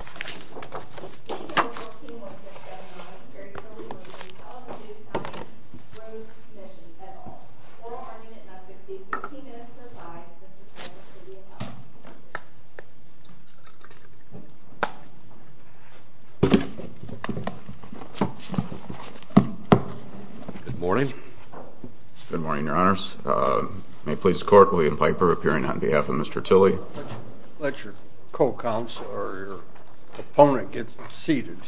Good morning. Good morning, your honors. May it please the court, William Piper appearing on behalf of Mr. Tilley. Let your co-counselor, your opponent, get seated.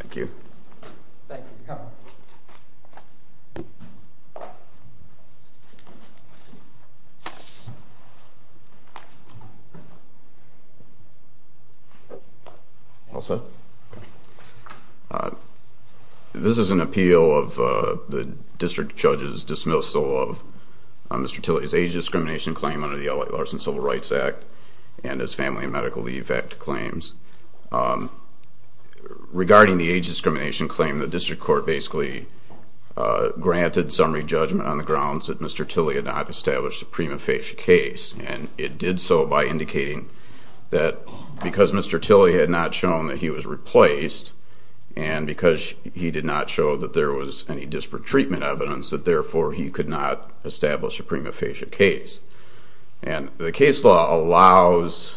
Thank you. This is an appeal of the district judge's dismissal of Mr. Tilley's age discrimination claim under the L.A. Larson Civil Rights Act and his Family and Medical Leave Act claims. Regarding the age discrimination claim, the district court basically granted summary judgment on the grounds that Mr. Tilley had not established a prima facie case. And it did so by indicating that because Mr. Tilley had not shown that he was replaced and because he did not show that there was any disparate treatment evidence, that therefore he could not establish a prima facie case. And the case law allows,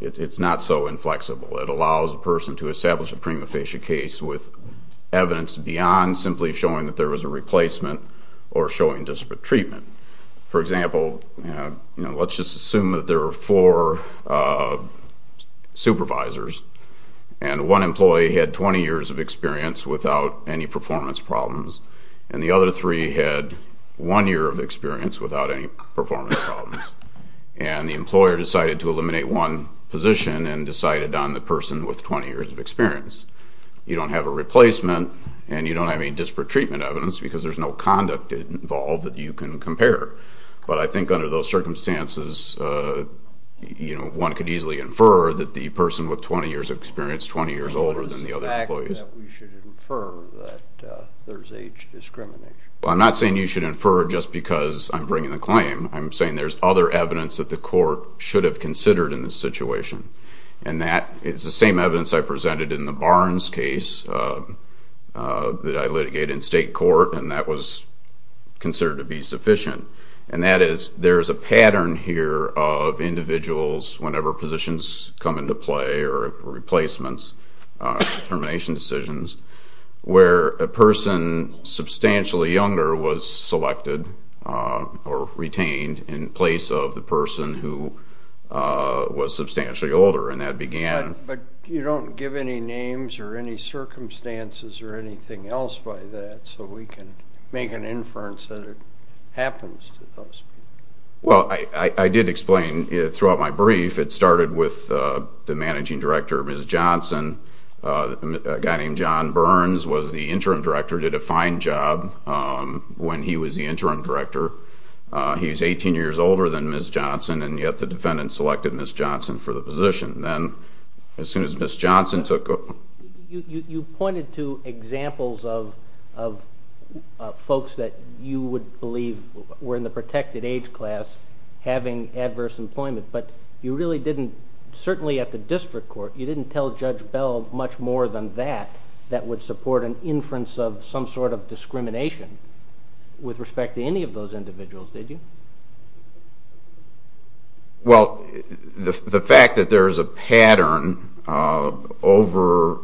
it's not so inflexible, it allows a person to establish a prima facie case with evidence beyond simply showing that there was a replacement or showing disparate treatment. For example, let's just assume that there were four supervisors and one employee had 20 years of experience without any performance problems and the other three had one year of experience without any performance problems. And the employer decided to eliminate one position and decided on the person with 20 years of experience. You don't have a replacement and you don't have any disparate treatment evidence because there's no conduct involved that you can compare. But I think under those circumstances, you know, one could easily infer that the person with 20 years of experience, 20 years older than the other employees. What is the fact that we should infer that there's age discrimination? Well, I'm not saying you should infer just because I'm bringing the claim. I'm saying there's other evidence that the court should have considered in this situation. And that is the same evidence I presented in the Barnes case that I litigated in state court and that was considered to be sufficient. And that is there's a pattern here of individuals, whenever positions come into play or replacements, termination decisions, where a person substantially younger was selected or retained in place of the person who was substantially older and that began... Well, I did explain throughout my brief, it started with the managing director, Ms. Johnson. A guy named John Burns was the interim director, did a fine job when he was the interim director. He's 18 years older than Ms. Johnson and yet the defendant selected Ms. Johnson for the position. Then as soon as Ms. Johnson took... You pointed to examples of folks that you would believe were in the protected age class having adverse employment, but you really didn't, certainly at the district court, you didn't tell Judge Bell much more than that that would support an inference of some sort of discrimination with respect to any of those individuals, did you? Well, the fact that there's a pattern over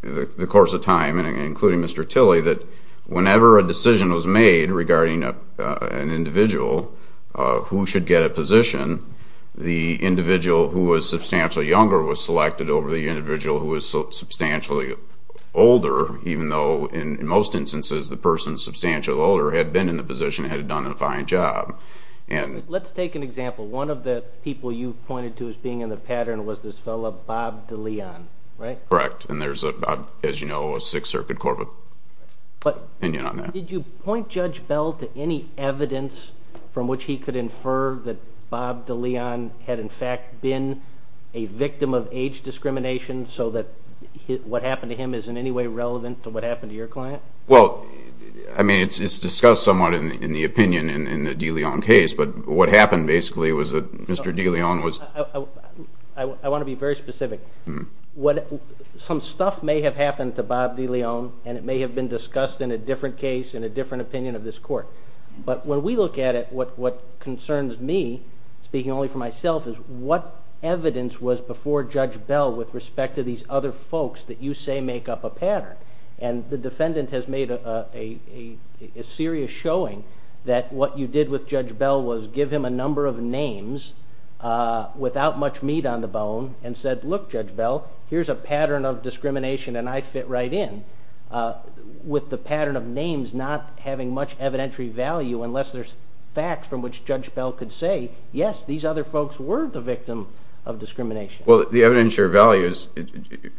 the course of time, including Mr. Tilley, that whenever a decision was made regarding an individual who should get a position, the individual who was substantially younger was selected over the individual who was substantially older, even though in most instances the person substantially older had been in the position and had done a fine job. Let's take an example. One of the people you pointed to as being in the pattern was this fellow, Bob DeLeon, right? Correct. And there's, as you know, a Sixth Circuit Court opinion on that. Did you point Judge Bell to any evidence from which he could infer that Bob DeLeon had in fact been a victim of age discrimination so that what happened to him is in any way relevant to what happened to your client? Well, I mean, it's discussed somewhat in the opinion in the DeLeon case, but what happened basically was that Mr. DeLeon was... I want to be very specific. Some stuff may have happened to Bob DeLeon, and it may have been discussed in a different case, in a different opinion of this court. But when we look at it, what concerns me, speaking only for myself, is what evidence was before Judge Bell with respect to these other folks that you say make up a pattern? And the defendant has made a serious showing that what you did with Judge Bell was give him a number of names without much meat on the bone and said, Look, Judge Bell, here's a pattern of discrimination, and I fit right in with the pattern of names not having much evidentiary value unless there's facts from which Judge Bell could say, Yes, these other folks were the victim of discrimination. Well, the evidentiary values,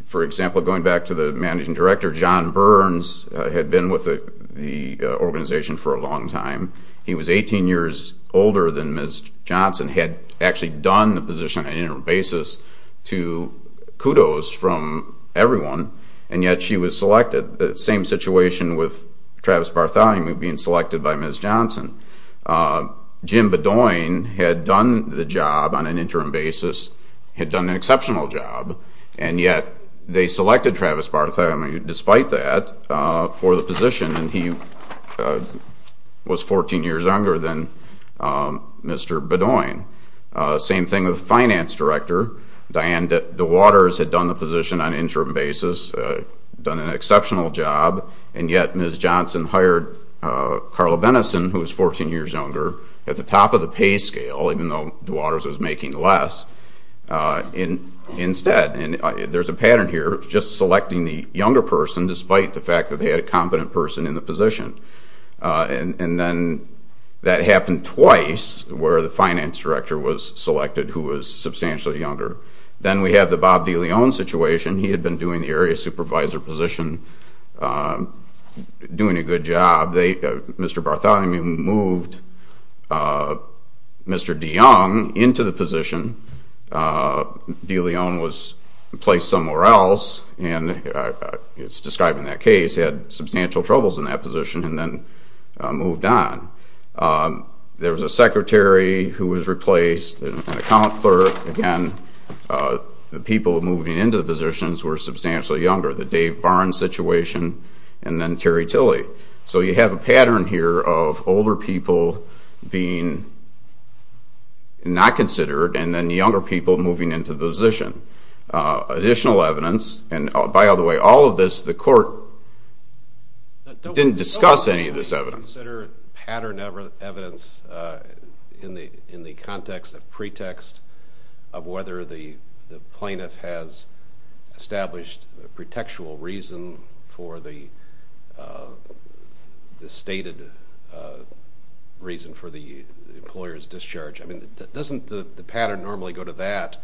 for example, going back to the managing director, John Burns had been with the organization for a long time. He was 18 years older than Ms. Johnson, had actually done the position on an interim basis to kudos from everyone, and yet she was selected. The same situation with Travis Bartholomew being selected by Ms. Johnson. Jim Bedoin had done the job on an interim basis, had done an exceptional job, and yet they selected Travis Bartholomew despite that for the position, and he was 14 years younger than Mr. Bedoin. Same thing with the finance director, Diane DeWaters had done the position on an interim basis, done an exceptional job, and yet Ms. Johnson hired Carla Benison, who was 14 years younger, at the top of the pay scale, even though DeWaters was making less, instead. And there's a pattern here of just selecting the younger person despite the fact that they had a competent person in the position. And then that happened twice where the finance director was selected who was substantially younger. Then we have the Bob DeLeon situation. He had been doing the area supervisor position, doing a good job. Mr. Bartholomew moved Mr. DeYoung into the position. DeLeon was placed somewhere else, and it's described in that case, had substantial troubles in that position, and then moved on. There was a secretary who was replaced, an account clerk. Again, the people moving into the positions were substantially younger. The Dave Barnes situation, and then Terry Tilly. So you have a pattern here of older people being not considered, and then younger people moving into the position. Additional evidence, and by the way, all of this, the court didn't discuss any of this evidence. Do you consider pattern evidence in the context of pretext of whether the plaintiff has established a pretextual reason for the stated reason for the employer's discharge? I mean, doesn't the pattern normally go to that?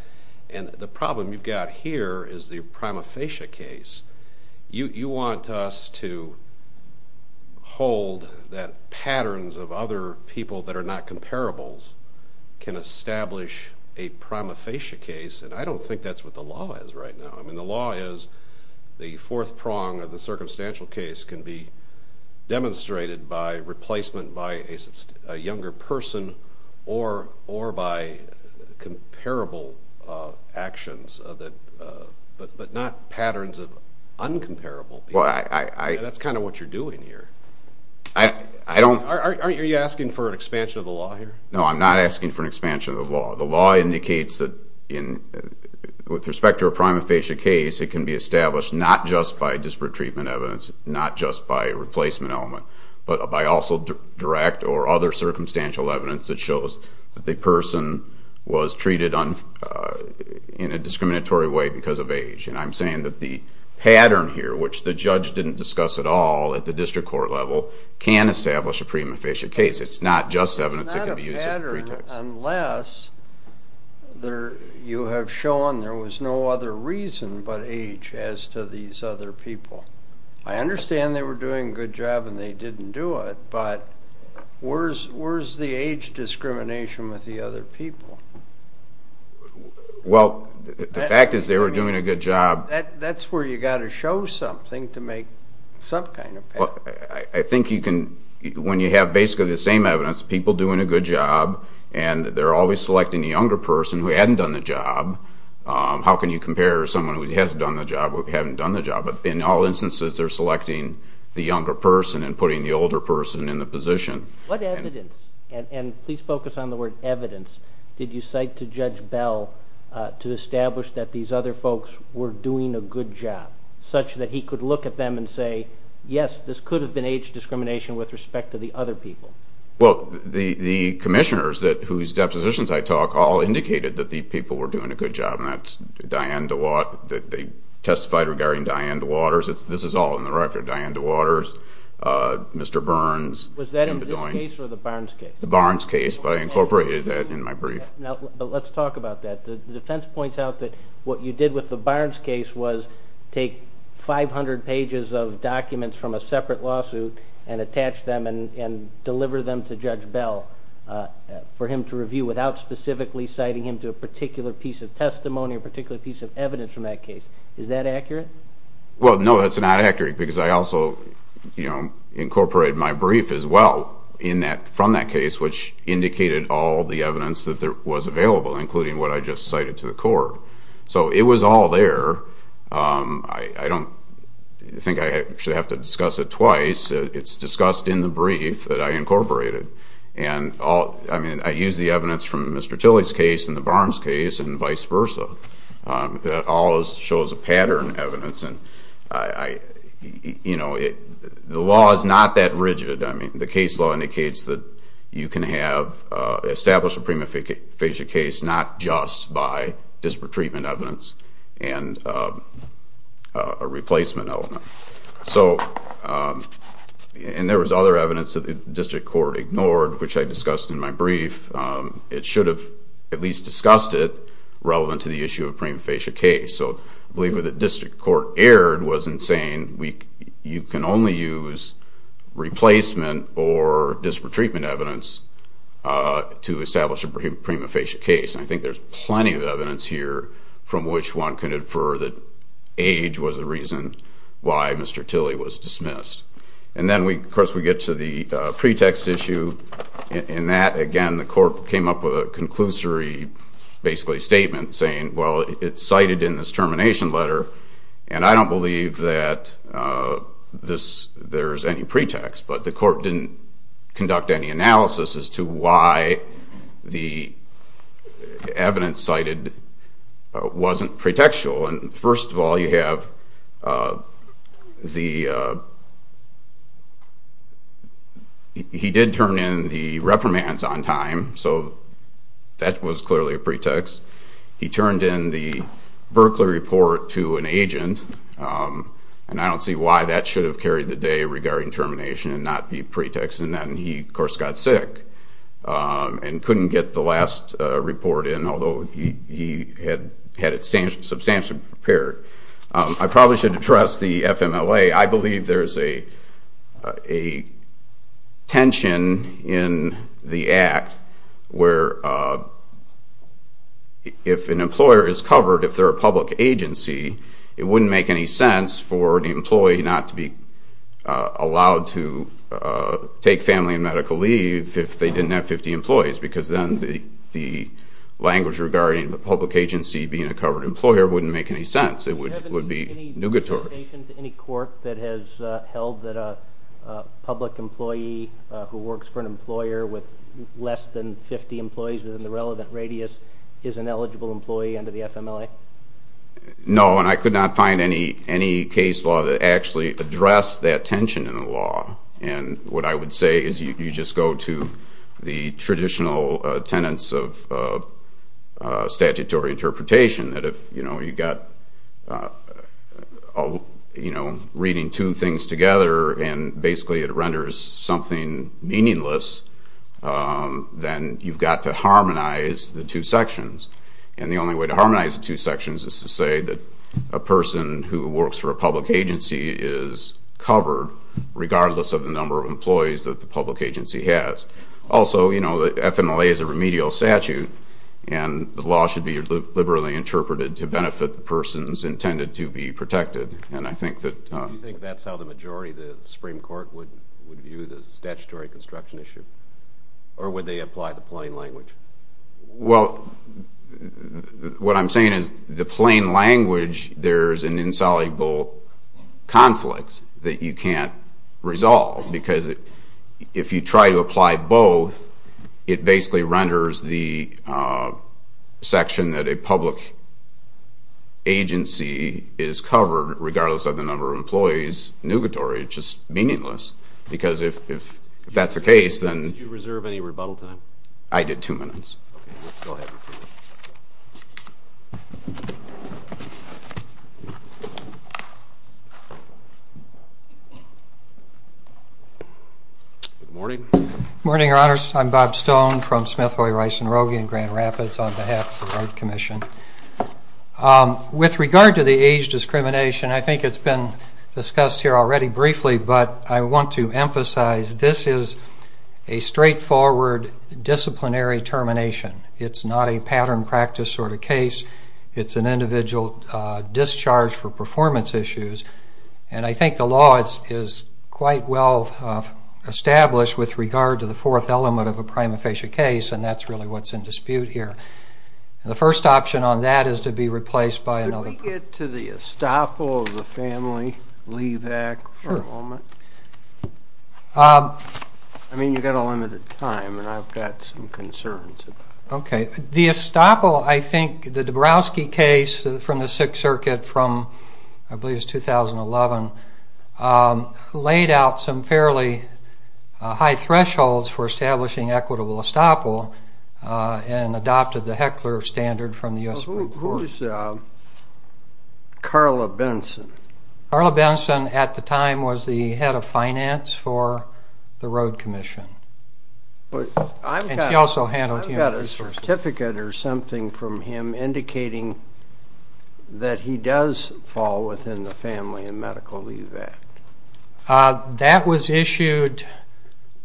And the problem you've got here is the prima facie case. You want us to hold that patterns of other people that are not comparables can establish a prima facie case, and I don't think that's what the law is right now. I mean, the law is the fourth prong of the circumstantial case can be demonstrated by replacement by a younger person or by comparable actions, but not patterns of uncomparable people. That's kind of what you're doing here. Aren't you asking for an expansion of the law here? No, I'm not asking for an expansion of the law. The law indicates that with respect to a prima facie case, it can be established not just by disparate treatment evidence, not just by replacement element, but by also direct or other circumstantial evidence that shows that the person was treated in a discriminatory way because of age. And I'm saying that the pattern here, which the judge didn't discuss at all at the district court level, can establish a prima facie case. It's not just evidence that can be used as a pretext. It's not a pattern unless you have shown there was no other reason but age as to these other people. I understand they were doing a good job and they didn't do it, but where's the age discrimination with the other people? Well, the fact is they were doing a good job. That's where you've got to show something to make some kind of pattern. I think when you have basically the same evidence, people doing a good job, and they're always selecting the younger person who hadn't done the job, how can you compare someone who has done the job with someone who hasn't done the job? In all instances, they're selecting the younger person and putting the older person in the position. What evidence, and please focus on the word evidence, did you cite to Judge Bell to establish that these other folks were doing a good job, such that he could look at them and say, yes, this could have been age discrimination with respect to the other people? Well, the commissioners whose depositions I talk all indicated that the people were doing a good job, and that's Diane DeWaters. They testified regarding Diane DeWaters. This is all in the record, Diane DeWaters, Mr. Burns, Jim Bedoin. Was that in this case or the Barnes case? The Barnes case, but I incorporated that in my brief. Let's talk about that. The defense points out that what you did with the Barnes case was take 500 pages of documents from a separate lawsuit and attach them and deliver them to Judge Bell for him to review without specifically citing him to a particular piece of testimony, a particular piece of evidence from that case. Is that accurate? Well, no, that's not accurate, because I also incorporated my brief as well from that case, which indicated all the evidence that was available, including what I just cited to the court. So it was all there. I don't think I should have to discuss it twice. It's discussed in the brief that I incorporated. I mean, I used the evidence from Mr. Tilley's case and the Barnes case and vice versa. That all shows a pattern of evidence, and the law is not that rigid. I mean, the case law indicates that you can establish a prima facie case not just by disparate treatment evidence and a replacement element. And there was other evidence that the district court ignored, which I discussed in my brief. It should have at least discussed it relevant to the issue of a prima facie case. So I believe what the district court erred was in saying you can only use replacement or disparate treatment evidence to establish a prima facie case. And I think there's plenty of evidence here from which one can infer that age was the reason why Mr. Tilley was dismissed. And then, of course, we get to the pretext issue. In that, again, the court came up with a conclusory, basically, statement saying, well, it's cited in this termination letter, and I don't believe that there's any pretext. But the court didn't conduct any analysis as to why the evidence cited wasn't pretextual. And first of all, he did turn in the reprimands on time, so that was clearly a pretext. He turned in the Berkeley report to an agent, and I don't see why that should have carried the day regarding termination and not be pretext. And then he, of course, got sick and couldn't get the last report in, although he had it substantially prepared. I probably should address the FMLA. I believe there's a tension in the Act where if an employer is covered, if they're a public agency, it wouldn't make any sense for the employee not to be allowed to take family and medical leave if they didn't have 50 employees, because then the language regarding the public agency being a covered employer wouldn't make any sense. It would be nugatory. Is there any indication to any court that has held that a public employee who works for an employer with less than 50 employees within the relevant radius is an eligible employee under the FMLA? No, and I could not find any case law that actually addressed that tension in the law. And what I would say is you just go to the traditional tenets of statutory interpretation, that if you've got reading two things together and basically it renders something meaningless, then you've got to harmonize the two sections. And the only way to harmonize the two sections is to say that a person who works for a public agency is covered, regardless of the number of employees that the public agency has. Also, you know, the FMLA is a remedial statute, and the law should be liberally interpreted to benefit the persons intended to be protected, and I think that... Do you think that's how the majority of the Supreme Court would view the statutory construction issue, or would they apply the plain language? Well, what I'm saying is the plain language, there's an insoluble conflict that you can't resolve, because if you try to apply both, it basically renders the section that a public agency is covered, regardless of the number of employees, nugatory, it's just meaningless. Because if that's the case, then... Did you reserve any rebuttal time? I did two minutes. Okay, go ahead. Good morning. Good morning, Your Honors. I'm Bob Stone from Smith, Hoy, Rice, and Rogge in Grand Rapids on behalf of the Wright Commission. With regard to the age discrimination, I think it's been discussed here already briefly, but I want to emphasize this is a straightforward disciplinary termination. It's not a pattern practice sort of case. It's an individual discharge for performance issues, and I think the law is quite well established with regard to the fourth element of a prima facie case, and that's really what's in dispute here. The first option on that is to be replaced by another... Can I get to the estoppel of the Family Leave Act for a moment? I mean, you've got a limited time, and I've got some concerns about it. Okay. The estoppel, I think, the Dabrowski case from the Sixth Circuit from, I believe it was 2011, laid out some fairly high thresholds for establishing equitable estoppel and adopted the Heckler standard from the U.S. Supreme Court. Who is Carla Benson? Carla Benson at the time was the head of finance for the Road Commission, and she also handled... I've got a certificate or something from him indicating that he does fall within the Family and Medical Leave Act. That was issued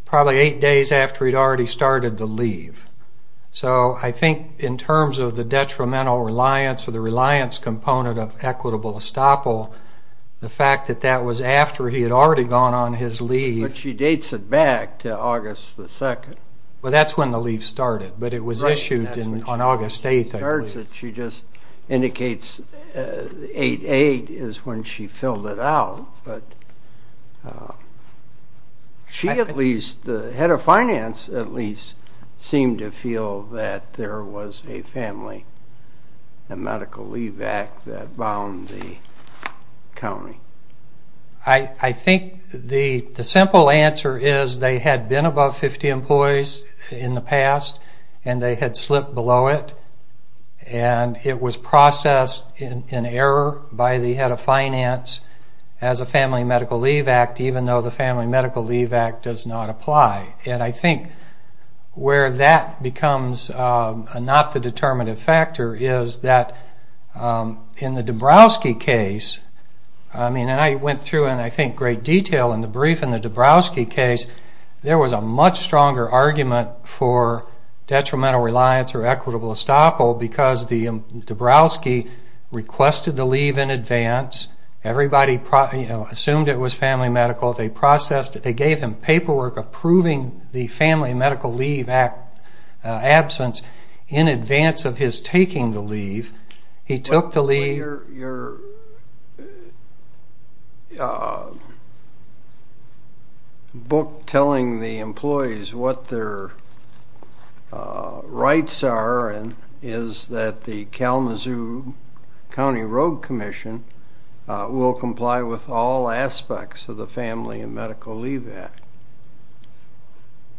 probably eight days after he'd already started the leave. So I think in terms of the detrimental reliance or the reliance component of equitable estoppel, the fact that that was after he had already gone on his leave... But she dates it back to August 2nd. Well, that's when the leave started, but it was issued on August 8th, I believe. She just indicates 8-8 is when she filled it out, but she at least, the head of finance at least, seemed to feel that there was a Family and Medical Leave Act that bound the county. I think the simple answer is they had been above 50 employees in the past, and they had slipped below it. And it was processed in error by the head of finance as a Family and Medical Leave Act, even though the Family and Medical Leave Act does not apply. And I think where that becomes not the determinative factor is that in the Dabrowski case... And I went through in, I think, great detail in the brief. there was a much stronger argument for detrimental reliance or equitable estoppel because Dabrowski requested the leave in advance. Everybody assumed it was Family and Medical. They gave him paperwork approving the Family and Medical Leave Act absence in advance of his taking the leave. Your book telling the employees what their rights are is that the Kalamazoo County Road Commission will comply with all aspects of the Family and Medical Leave Act.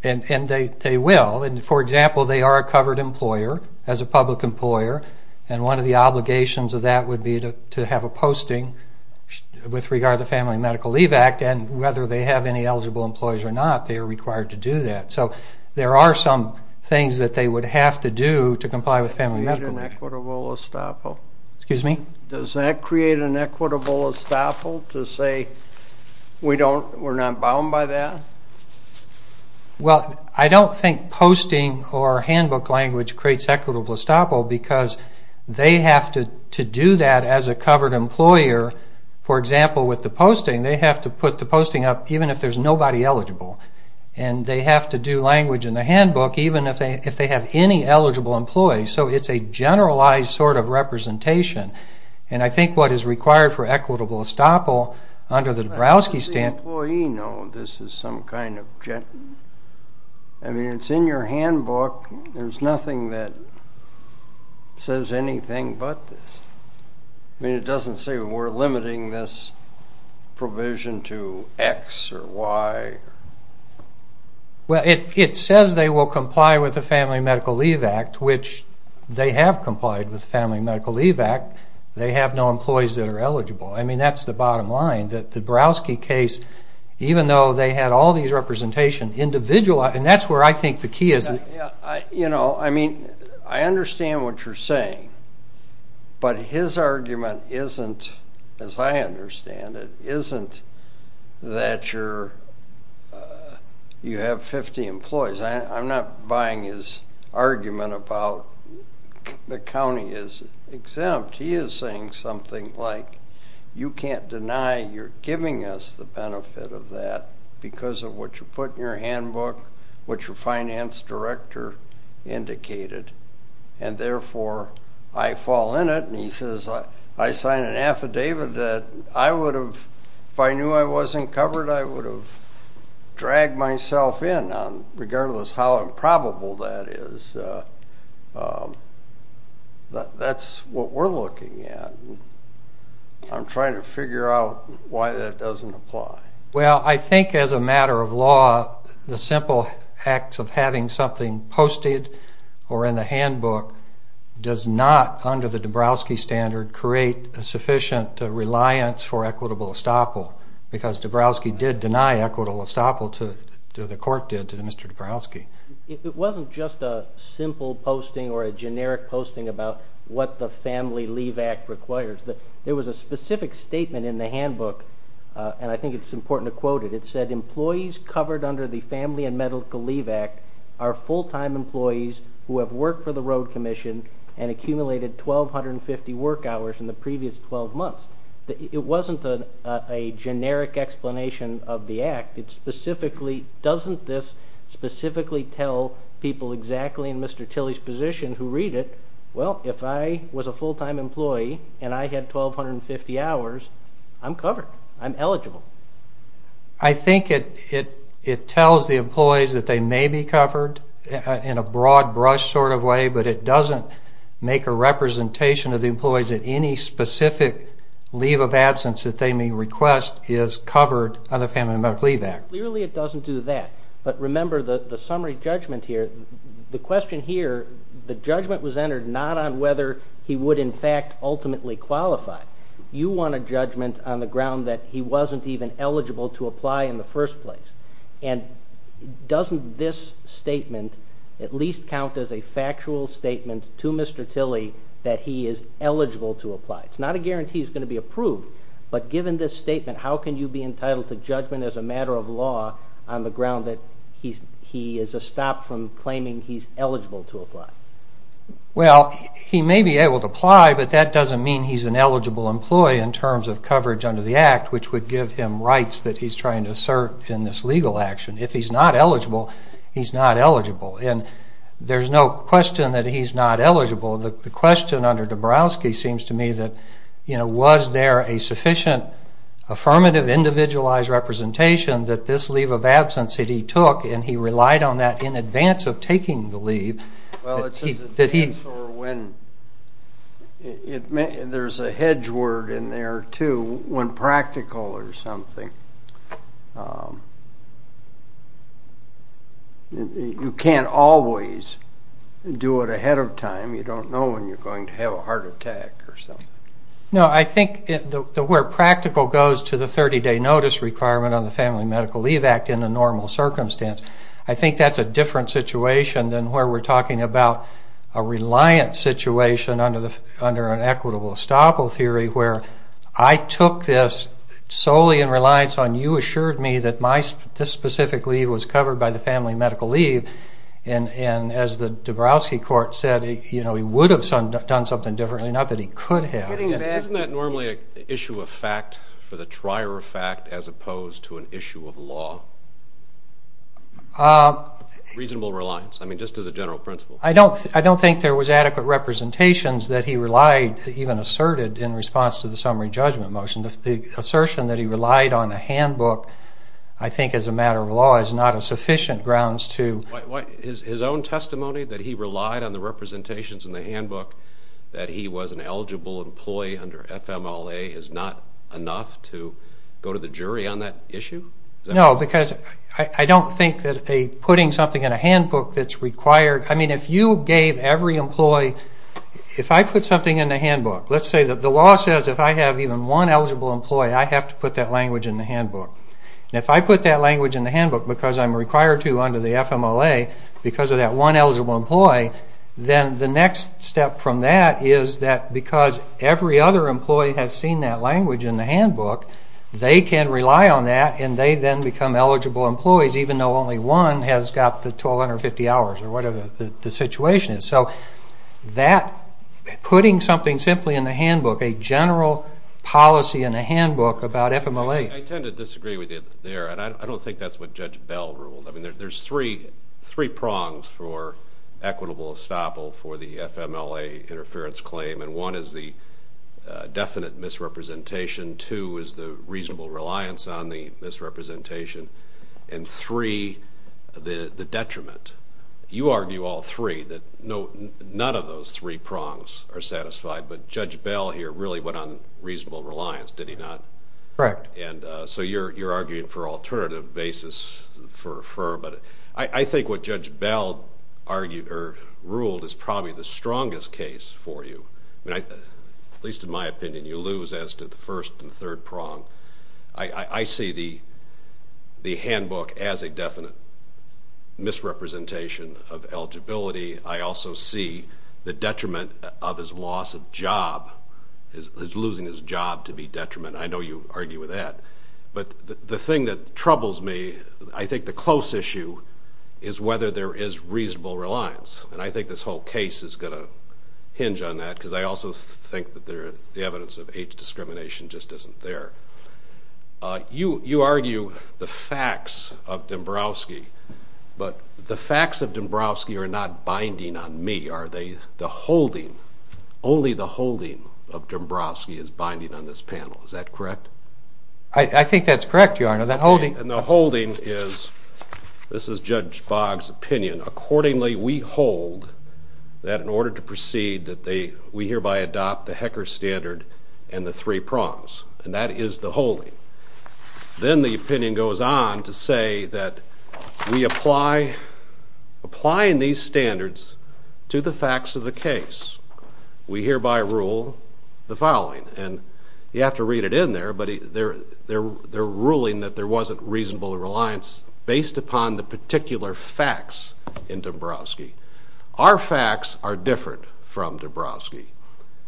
And they will. For example, they are a covered employer as a public employer, and one of the obligations of that would be to have a posting with regard to the Family and Medical Leave Act. And whether they have any eligible employees or not, they are required to do that. So there are some things that they would have to do to comply with Family and Medical Leave Act. Does that create an equitable estoppel? Excuse me? Does that create an equitable estoppel to say we're not bound by that? Well, I don't think posting or handbook language creates equitable estoppel because they have to do that as a covered employer. For example, with the posting, they have to put the posting up even if there's nobody eligible. And they have to do language in the handbook even if they have any eligible employees. So it's a generalized sort of representation. And I think what is required for equitable estoppel under the Dabrowski statute is the employee know this is some kind of gentleman. I mean, it's in your handbook. There's nothing that says anything but this. I mean, it doesn't say we're limiting this provision to X or Y. Well, it says they will comply with the Family and Medical Leave Act, which they have complied with the Family and Medical Leave Act. They have no employees that are eligible. I mean, that's the bottom line. The Dabrowski case, even though they had all these representations, individualized, and that's where I think the key is. You know, I mean, I understand what you're saying. But his argument isn't, as I understand it, isn't that you have 50 employees. I'm not buying his argument about the county is exempt. He is saying something like you can't deny you're giving us the benefit of that because of what you put in your handbook, what your finance director indicated, and therefore I fall in it. And he says I signed an affidavit that I would have, if I knew I wasn't covered, I would have dragged myself in, regardless how improbable that is. And that's what we're looking at. I'm trying to figure out why that doesn't apply. Well, I think as a matter of law, the simple act of having something posted or in the handbook does not, under the Dabrowski standard, create a sufficient reliance for equitable estoppel because Dabrowski did deny equitable estoppel to the court did to Mr. Dabrowski. It wasn't just a simple posting or a generic posting about what the Family Leave Act requires. There was a specific statement in the handbook, and I think it's important to quote it. It said employees covered under the Family and Medical Leave Act are full-time employees who have worked for the road commission and accumulated 1,250 work hours in the previous 12 months. It wasn't a generic explanation of the act. It specifically doesn't this specifically tell people exactly in Mr. Tilley's position who read it, well, if I was a full-time employee and I had 1,250 hours, I'm covered. I'm eligible. I think it tells the employees that they may be covered in a broad brush sort of way, but it doesn't make a representation of the employees that any specific leave of absence that they may request is covered under the Family and Medical Leave Act. Clearly it doesn't do that. But remember the summary judgment here, the question here, the judgment was entered not on whether he would in fact ultimately qualify. You want a judgment on the ground that he wasn't even eligible to apply in the first place. And doesn't this statement at least count as a factual statement to Mr. Tilley that he is eligible to apply? It's not a guarantee he's going to be approved, but given this statement, how can you be entitled to judgment as a matter of law on the ground that he is a stop from claiming he's eligible to apply? Well, he may be able to apply, but that doesn't mean he's an eligible employee in terms of coverage under the act, which would give him rights that he's trying to assert in this legal action. If he's not eligible, he's not eligible. And there's no question that he's not eligible. The question under Dabrowski seems to me that, you know, was there a sufficient affirmative individualized representation that this leave of absence that he took, and he relied on that in advance of taking the leave. Well, it depends on when. There's a hedge word in there, too, when practical or something. You can't always do it ahead of time. You don't know when you're going to have a heart attack or something. No, I think where practical goes to the 30-day notice requirement on the Family Medical Leave Act in the normal circumstance, I think that's a different situation than where we're talking about a reliant situation under an equitable estoppel theory where I took this solely in reliance on you assured me that this specific leave was covered by the family medical leave. And as the Dabrowski court said, you know, he would have done something differently, not that he could have. Isn't that normally an issue of fact for the trier of fact as opposed to an issue of law? Reasonable reliance, I mean, just as a general principle. I don't think there was adequate representations that he relied, even asserted in response to the summary judgment motion. The assertion that he relied on a handbook, I think as a matter of law, is not a sufficient grounds to. His own testimony that he relied on the representations in the handbook, that he was an eligible employee under FMLA, is not enough to go to the jury on that issue? No, because I don't think that putting something in a handbook that's required. I mean, if you gave every employee, if I put something in the handbook, let's say that the law says if I have even one eligible employee, I have to put that language in the handbook. And if I put that language in the handbook because I'm required to under the FMLA because of that one eligible employee, then the next step from that is that because every other employee has seen that language in the handbook, they can rely on that and they then become eligible employees even though only one has got the 1,250 hours or whatever the situation is. So putting something simply in the handbook, a general policy in a handbook about FMLA. I tend to disagree with you there, and I don't think that's what Judge Bell ruled. I mean, there's three prongs for equitable estoppel for the FMLA interference claim, and one is the definite misrepresentation, two is the reasonable reliance on the misrepresentation, and three, the detriment. You argue all three, that none of those three prongs are satisfied, but Judge Bell here really went on reasonable reliance, did he not? Correct. And so you're arguing for alternative basis for, but I think what Judge Bell argued or ruled is probably the strongest case for you. At least in my opinion, you lose as to the first and third prong. I see the handbook as a definite misrepresentation of eligibility. I also see the detriment of his loss of job, his losing his job to be detriment. I know you argue with that, but the thing that troubles me, I think the close issue is whether there is reasonable reliance, and I think this whole case is going to hinge on that because I also think that the evidence of age discrimination just isn't there. You argue the facts of Dombrowski, but the facts of Dombrowski are not binding on me, are they? The holding, only the holding of Dombrowski is binding on this panel. Is that correct? I think that's correct, Your Honor. And the holding is, this is Judge Boggs' opinion, accordingly we hold that in order to proceed, we hereby adopt the Hecker standard and the three prongs, and that is the holding. Then the opinion goes on to say that we apply, applying these standards to the facts of the case, we hereby rule the following, and you have to read it in there, but they're ruling that there wasn't reasonable reliance based upon the particular facts in Dombrowski. Our facts are different from Dombrowski,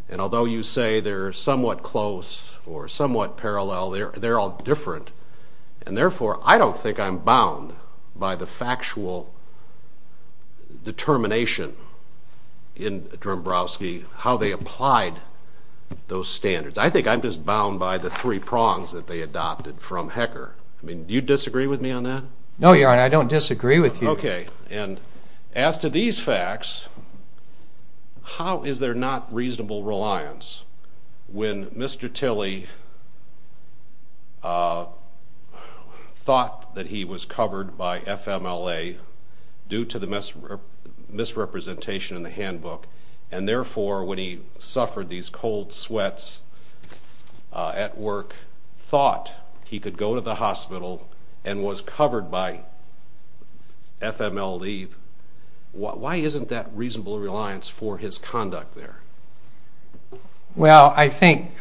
and although you say they're somewhat close or somewhat parallel, they're all different, and therefore I don't think I'm bound by the factual determination in Dombrowski how they applied those standards. I think I'm just bound by the three prongs that they adopted from Hecker. Do you disagree with me on that? No, Your Honor, I don't disagree with you. Okay, and as to these facts, how is there not reasonable reliance when Mr. Tilley thought that he was covered by FMLA due to the misrepresentation in the handbook, and therefore when he suffered these cold sweats at work, thought he could go to the hospital and was covered by FMLA, why isn't that reasonable reliance for his conduct there? Well, I think,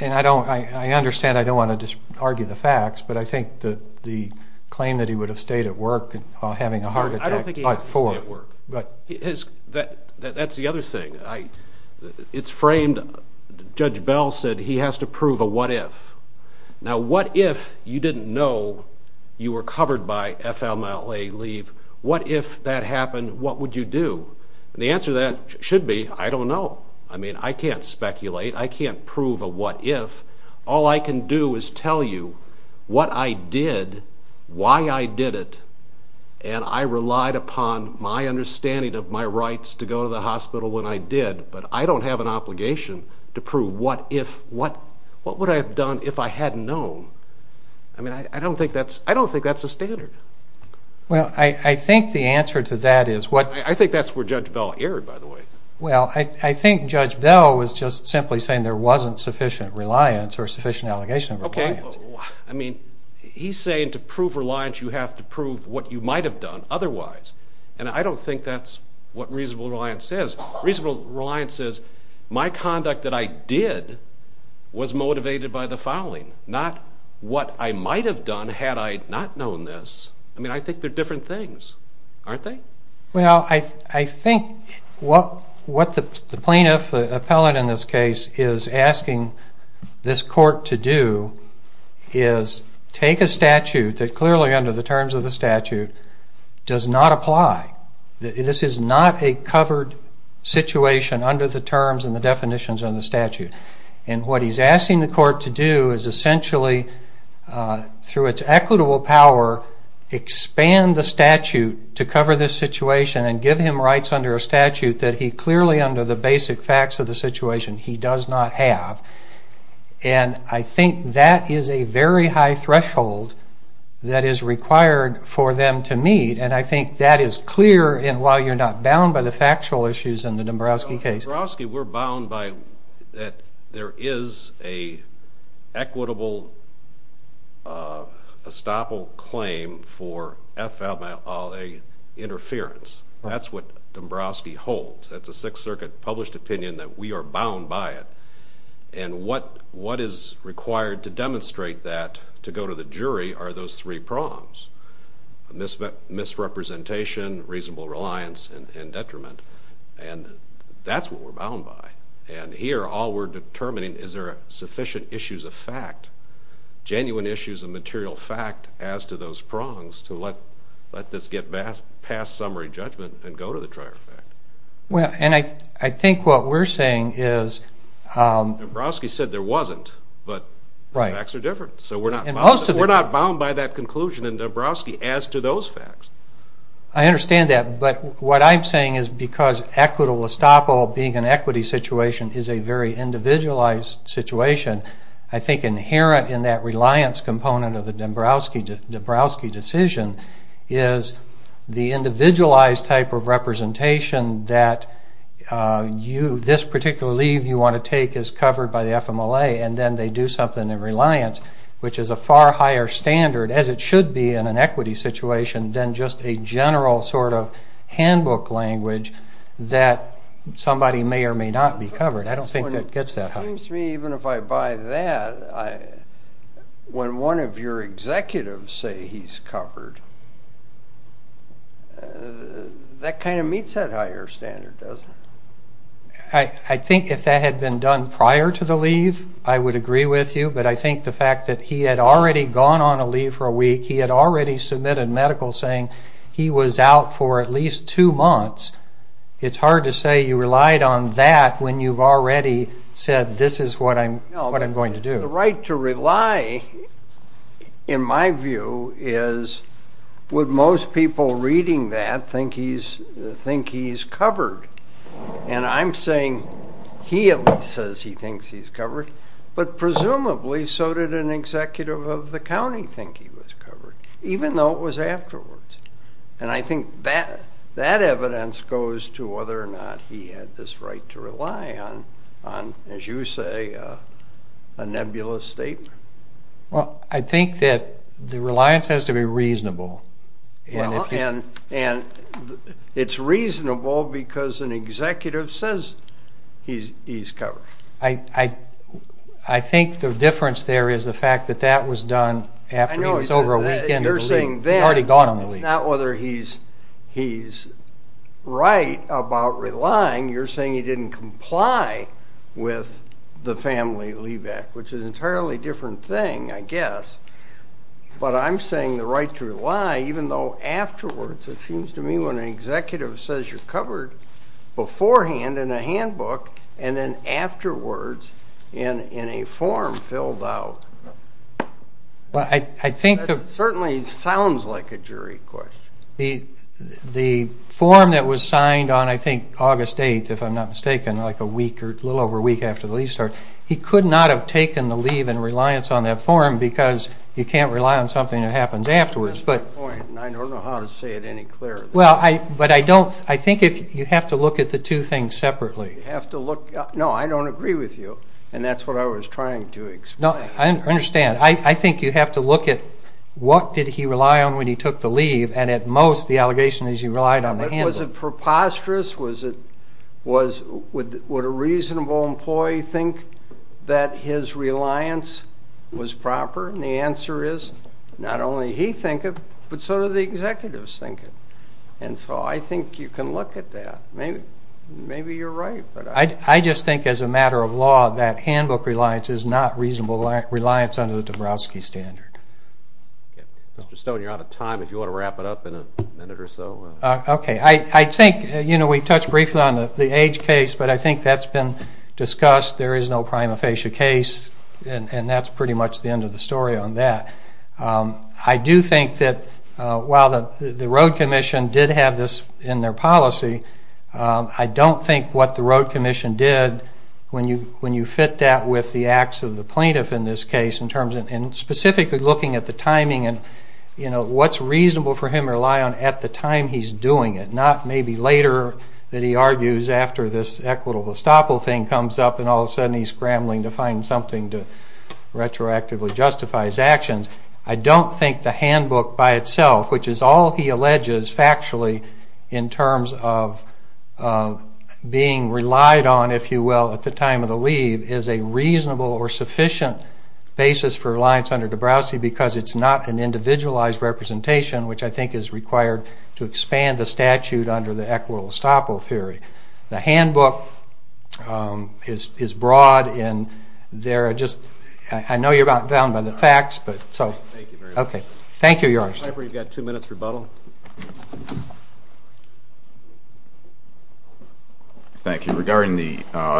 and I understand I don't want to just argue the facts, but I think the claim that he would have stayed at work I don't think he had to stay at work. That's the other thing. It's framed, Judge Bell said he has to prove a what-if. Now, what if you didn't know you were covered by FMLA leave? What if that happened? What would you do? And the answer to that should be, I don't know. I mean, I can't speculate. I can't prove a what-if. All I can do is tell you what I did, why I did it, and I relied upon my understanding of my rights to go to the hospital when I did, but I don't have an obligation to prove what would I have done if I hadn't known. I mean, I don't think that's a standard. Well, I think the answer to that is what... I think that's where Judge Bell erred, by the way. Well, I think Judge Bell was just simply saying there wasn't sufficient reliance or sufficient allegation of reliance. I mean, he's saying to prove reliance, you have to prove what you might have done otherwise, and I don't think that's what reasonable reliance says. Reasonable reliance says my conduct that I did was motivated by the fouling, not what I might have done had I not known this. I mean, I think they're different things, aren't they? Well, I think what the plaintiff, the appellate in this case, is asking this court to do is take a statute that clearly, under the terms of the statute, does not apply. This is not a covered situation under the terms and the definitions of the statute, and what he's asking the court to do is essentially, through its equitable power, expand the statute to cover this situation and give him rights under a statute that he clearly, under the basic facts of the situation, he does not have. And I think that is a very high threshold that is required for them to meet, and I think that is clear while you're not bound by the factual issues in the Dombrowski case. Well, at Dombrowski, we're bound by that there is an equitable estoppel claim for FMIA interference. That's what Dombrowski holds. That's a Sixth Circuit published opinion that we are bound by it, and what is required to demonstrate that to go to the jury are those three prongs, misrepresentation, reasonable reliance, and detriment, and that's what we're bound by. And here, all we're determining is there are sufficient issues of fact, genuine issues of material fact as to those prongs to let this get past summary judgment and go to the trier fact. And I think what we're saying is... Dombrowski said there wasn't, but the facts are different, so we're not bound by that conclusion in Dombrowski as to those facts. I understand that, but what I'm saying is because equitable estoppel, being an equity situation, is a very individualized situation, I think inherent in that reliance component of the Dombrowski decision is the individualized type of representation that this particular leave you want to take is covered by the FMLA, and then they do something in reliance, which is a far higher standard, as it should be in an equity situation, than just a general sort of handbook language that somebody may or may not be covered. I don't think it gets that high. It seems to me even if I buy that, when one of your executives say he's covered, that kind of meets that higher standard, doesn't it? I think if that had been done prior to the leave, I would agree with you, but I think the fact that he had already gone on a leave for a week, he had already submitted medical saying he was out for at least two months, it's hard to say you relied on that when you've already said this is what I'm going to do. The right to rely, in my view, is would most people reading that think he's covered? And I'm saying he at least says he thinks he's covered, but presumably so did an executive of the county think he was covered, even though it was afterwards. And I think that evidence goes to whether or not he had this right to rely on, as you say, a nebulous statement. Well, I think that the reliance has to be reasonable. And it's reasonable because an executive says he's covered. I think the difference there is the fact that that was done after he was over a week and had already gone on a leave. It's not whether he's right about relying. You're saying he didn't comply with the Family Leave Act, which is an entirely different thing, I guess. But I'm saying the right to rely, even though afterwards it seems to me when an executive says you're covered beforehand in a handbook and then afterwards in a form filled out, that certainly sounds like a jury question. The form that was signed on, I think, August 8th, if I'm not mistaken, like a week or a little over a week after the leave started, he could not have taken the leave in reliance on that form because you can't rely on something that happens afterwards. That's my point, and I don't know how to say it any clearer than that. But I think you have to look at the two things separately. No, I don't agree with you, and that's what I was trying to explain. I understand. I think you have to look at what did he rely on when he took the leave, and at most the allegation is he relied on the handbook. Was it preposterous? Would a reasonable employee think that his reliance was proper? And the answer is not only he think it, but so do the executives think it. And so I think you can look at that. Maybe you're right. I just think as a matter of law that handbook reliance is not reasonable reliance under the Dabrowski standard. Mr. Stone, you're out of time. If you want to wrap it up in a minute or so. Okay. I think we touched briefly on the age case, but I think that's been discussed. There is no prima facie case, and that's pretty much the end of the story on that. I do think that while the road commission did have this in their policy, I don't think what the road commission did, when you fit that with the acts of the plaintiff in this case, in terms of specifically looking at the timing and what's reasonable for him to rely on at the time he's doing it, not maybe later that he argues after this equitable estoppel thing comes up and all of a sudden he's scrambling to find something to retroactively justify his actions. I don't think the handbook by itself, which is all he alleges factually in terms of being relied on, if you will, at the time of the leave, is a reasonable or sufficient basis for reliance under Dabrowski because it's not an individualized representation, which I think is required to expand the statute under the equitable estoppel theory. The handbook is broad, and there are just... I know you're bound by the facts, but... Thank you very much. Thank you, Your Honor. Mr. Piper, you've got two minutes rebuttal. Thank you. Regarding the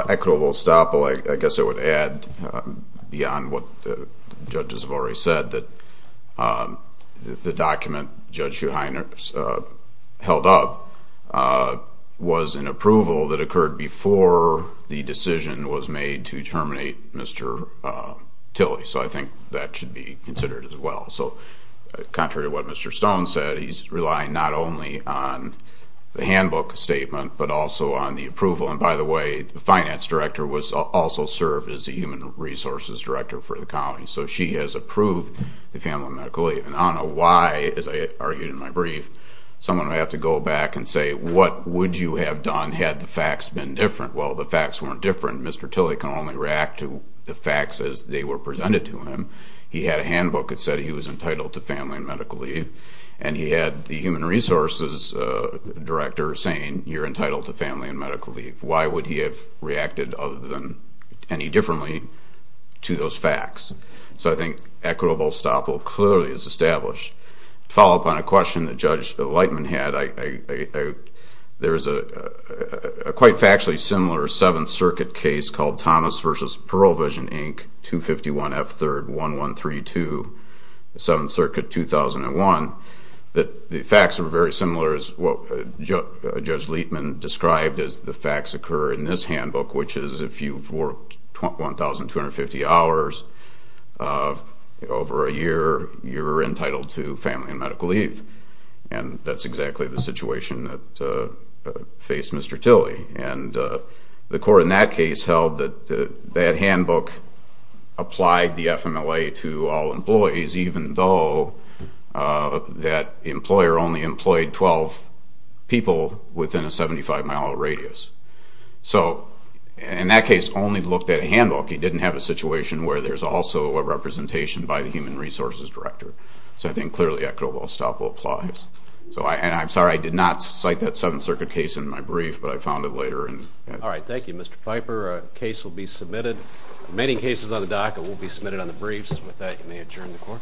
equitable estoppel, I guess I would add, beyond what the judges have already said, that the document Judge Schuheiner held up was an approval that occurred before the decision was made to terminate Mr. Tilley, so I think that should be considered as well. So contrary to what Mr. Stone said, he's relying not only on the handbook statement but also on the approval. And by the way, the finance director also served as the human resources director for the county, so she has approved the family medical leave. And I don't know why, as I argued in my brief, someone would have to go back and say, what would you have done had the facts been different? Well, the facts weren't different. Mr. Tilley can only react to the facts as they were presented to him. He had a handbook that said he was entitled to family and medical leave, and he had the human resources director saying, you're entitled to family and medical leave. Why would he have reacted other than any differently to those facts? So I think equitable estoppel clearly is established. To follow up on a question that Judge Leitman had, there is a quite factually similar Seventh Circuit case called Thomas v. Pearl Vision, Inc., 251 F. 3rd, 1132, Seventh Circuit, 2001. The facts are very similar as what Judge Leitman described as the facts occur in this handbook, which is if you've worked 1,250 hours over a year, you're entitled to family and medical leave. And that's exactly the situation that faced Mr. Tilley. And the court in that case held that that handbook applied the FMLA to all employees, even though that employer only employed 12 people within a 75-mile radius. So in that case, only looked at a handbook. He didn't have a situation where there's also a representation by the human resources director. So I think clearly equitable estoppel applies. And I'm sorry I did not cite that Seventh Circuit case in my brief, but I found it later. All right. Thank you, Mr. Piper. The case will be submitted. The remaining cases on the docket will be submitted on the briefs. And with that, you may adjourn the court.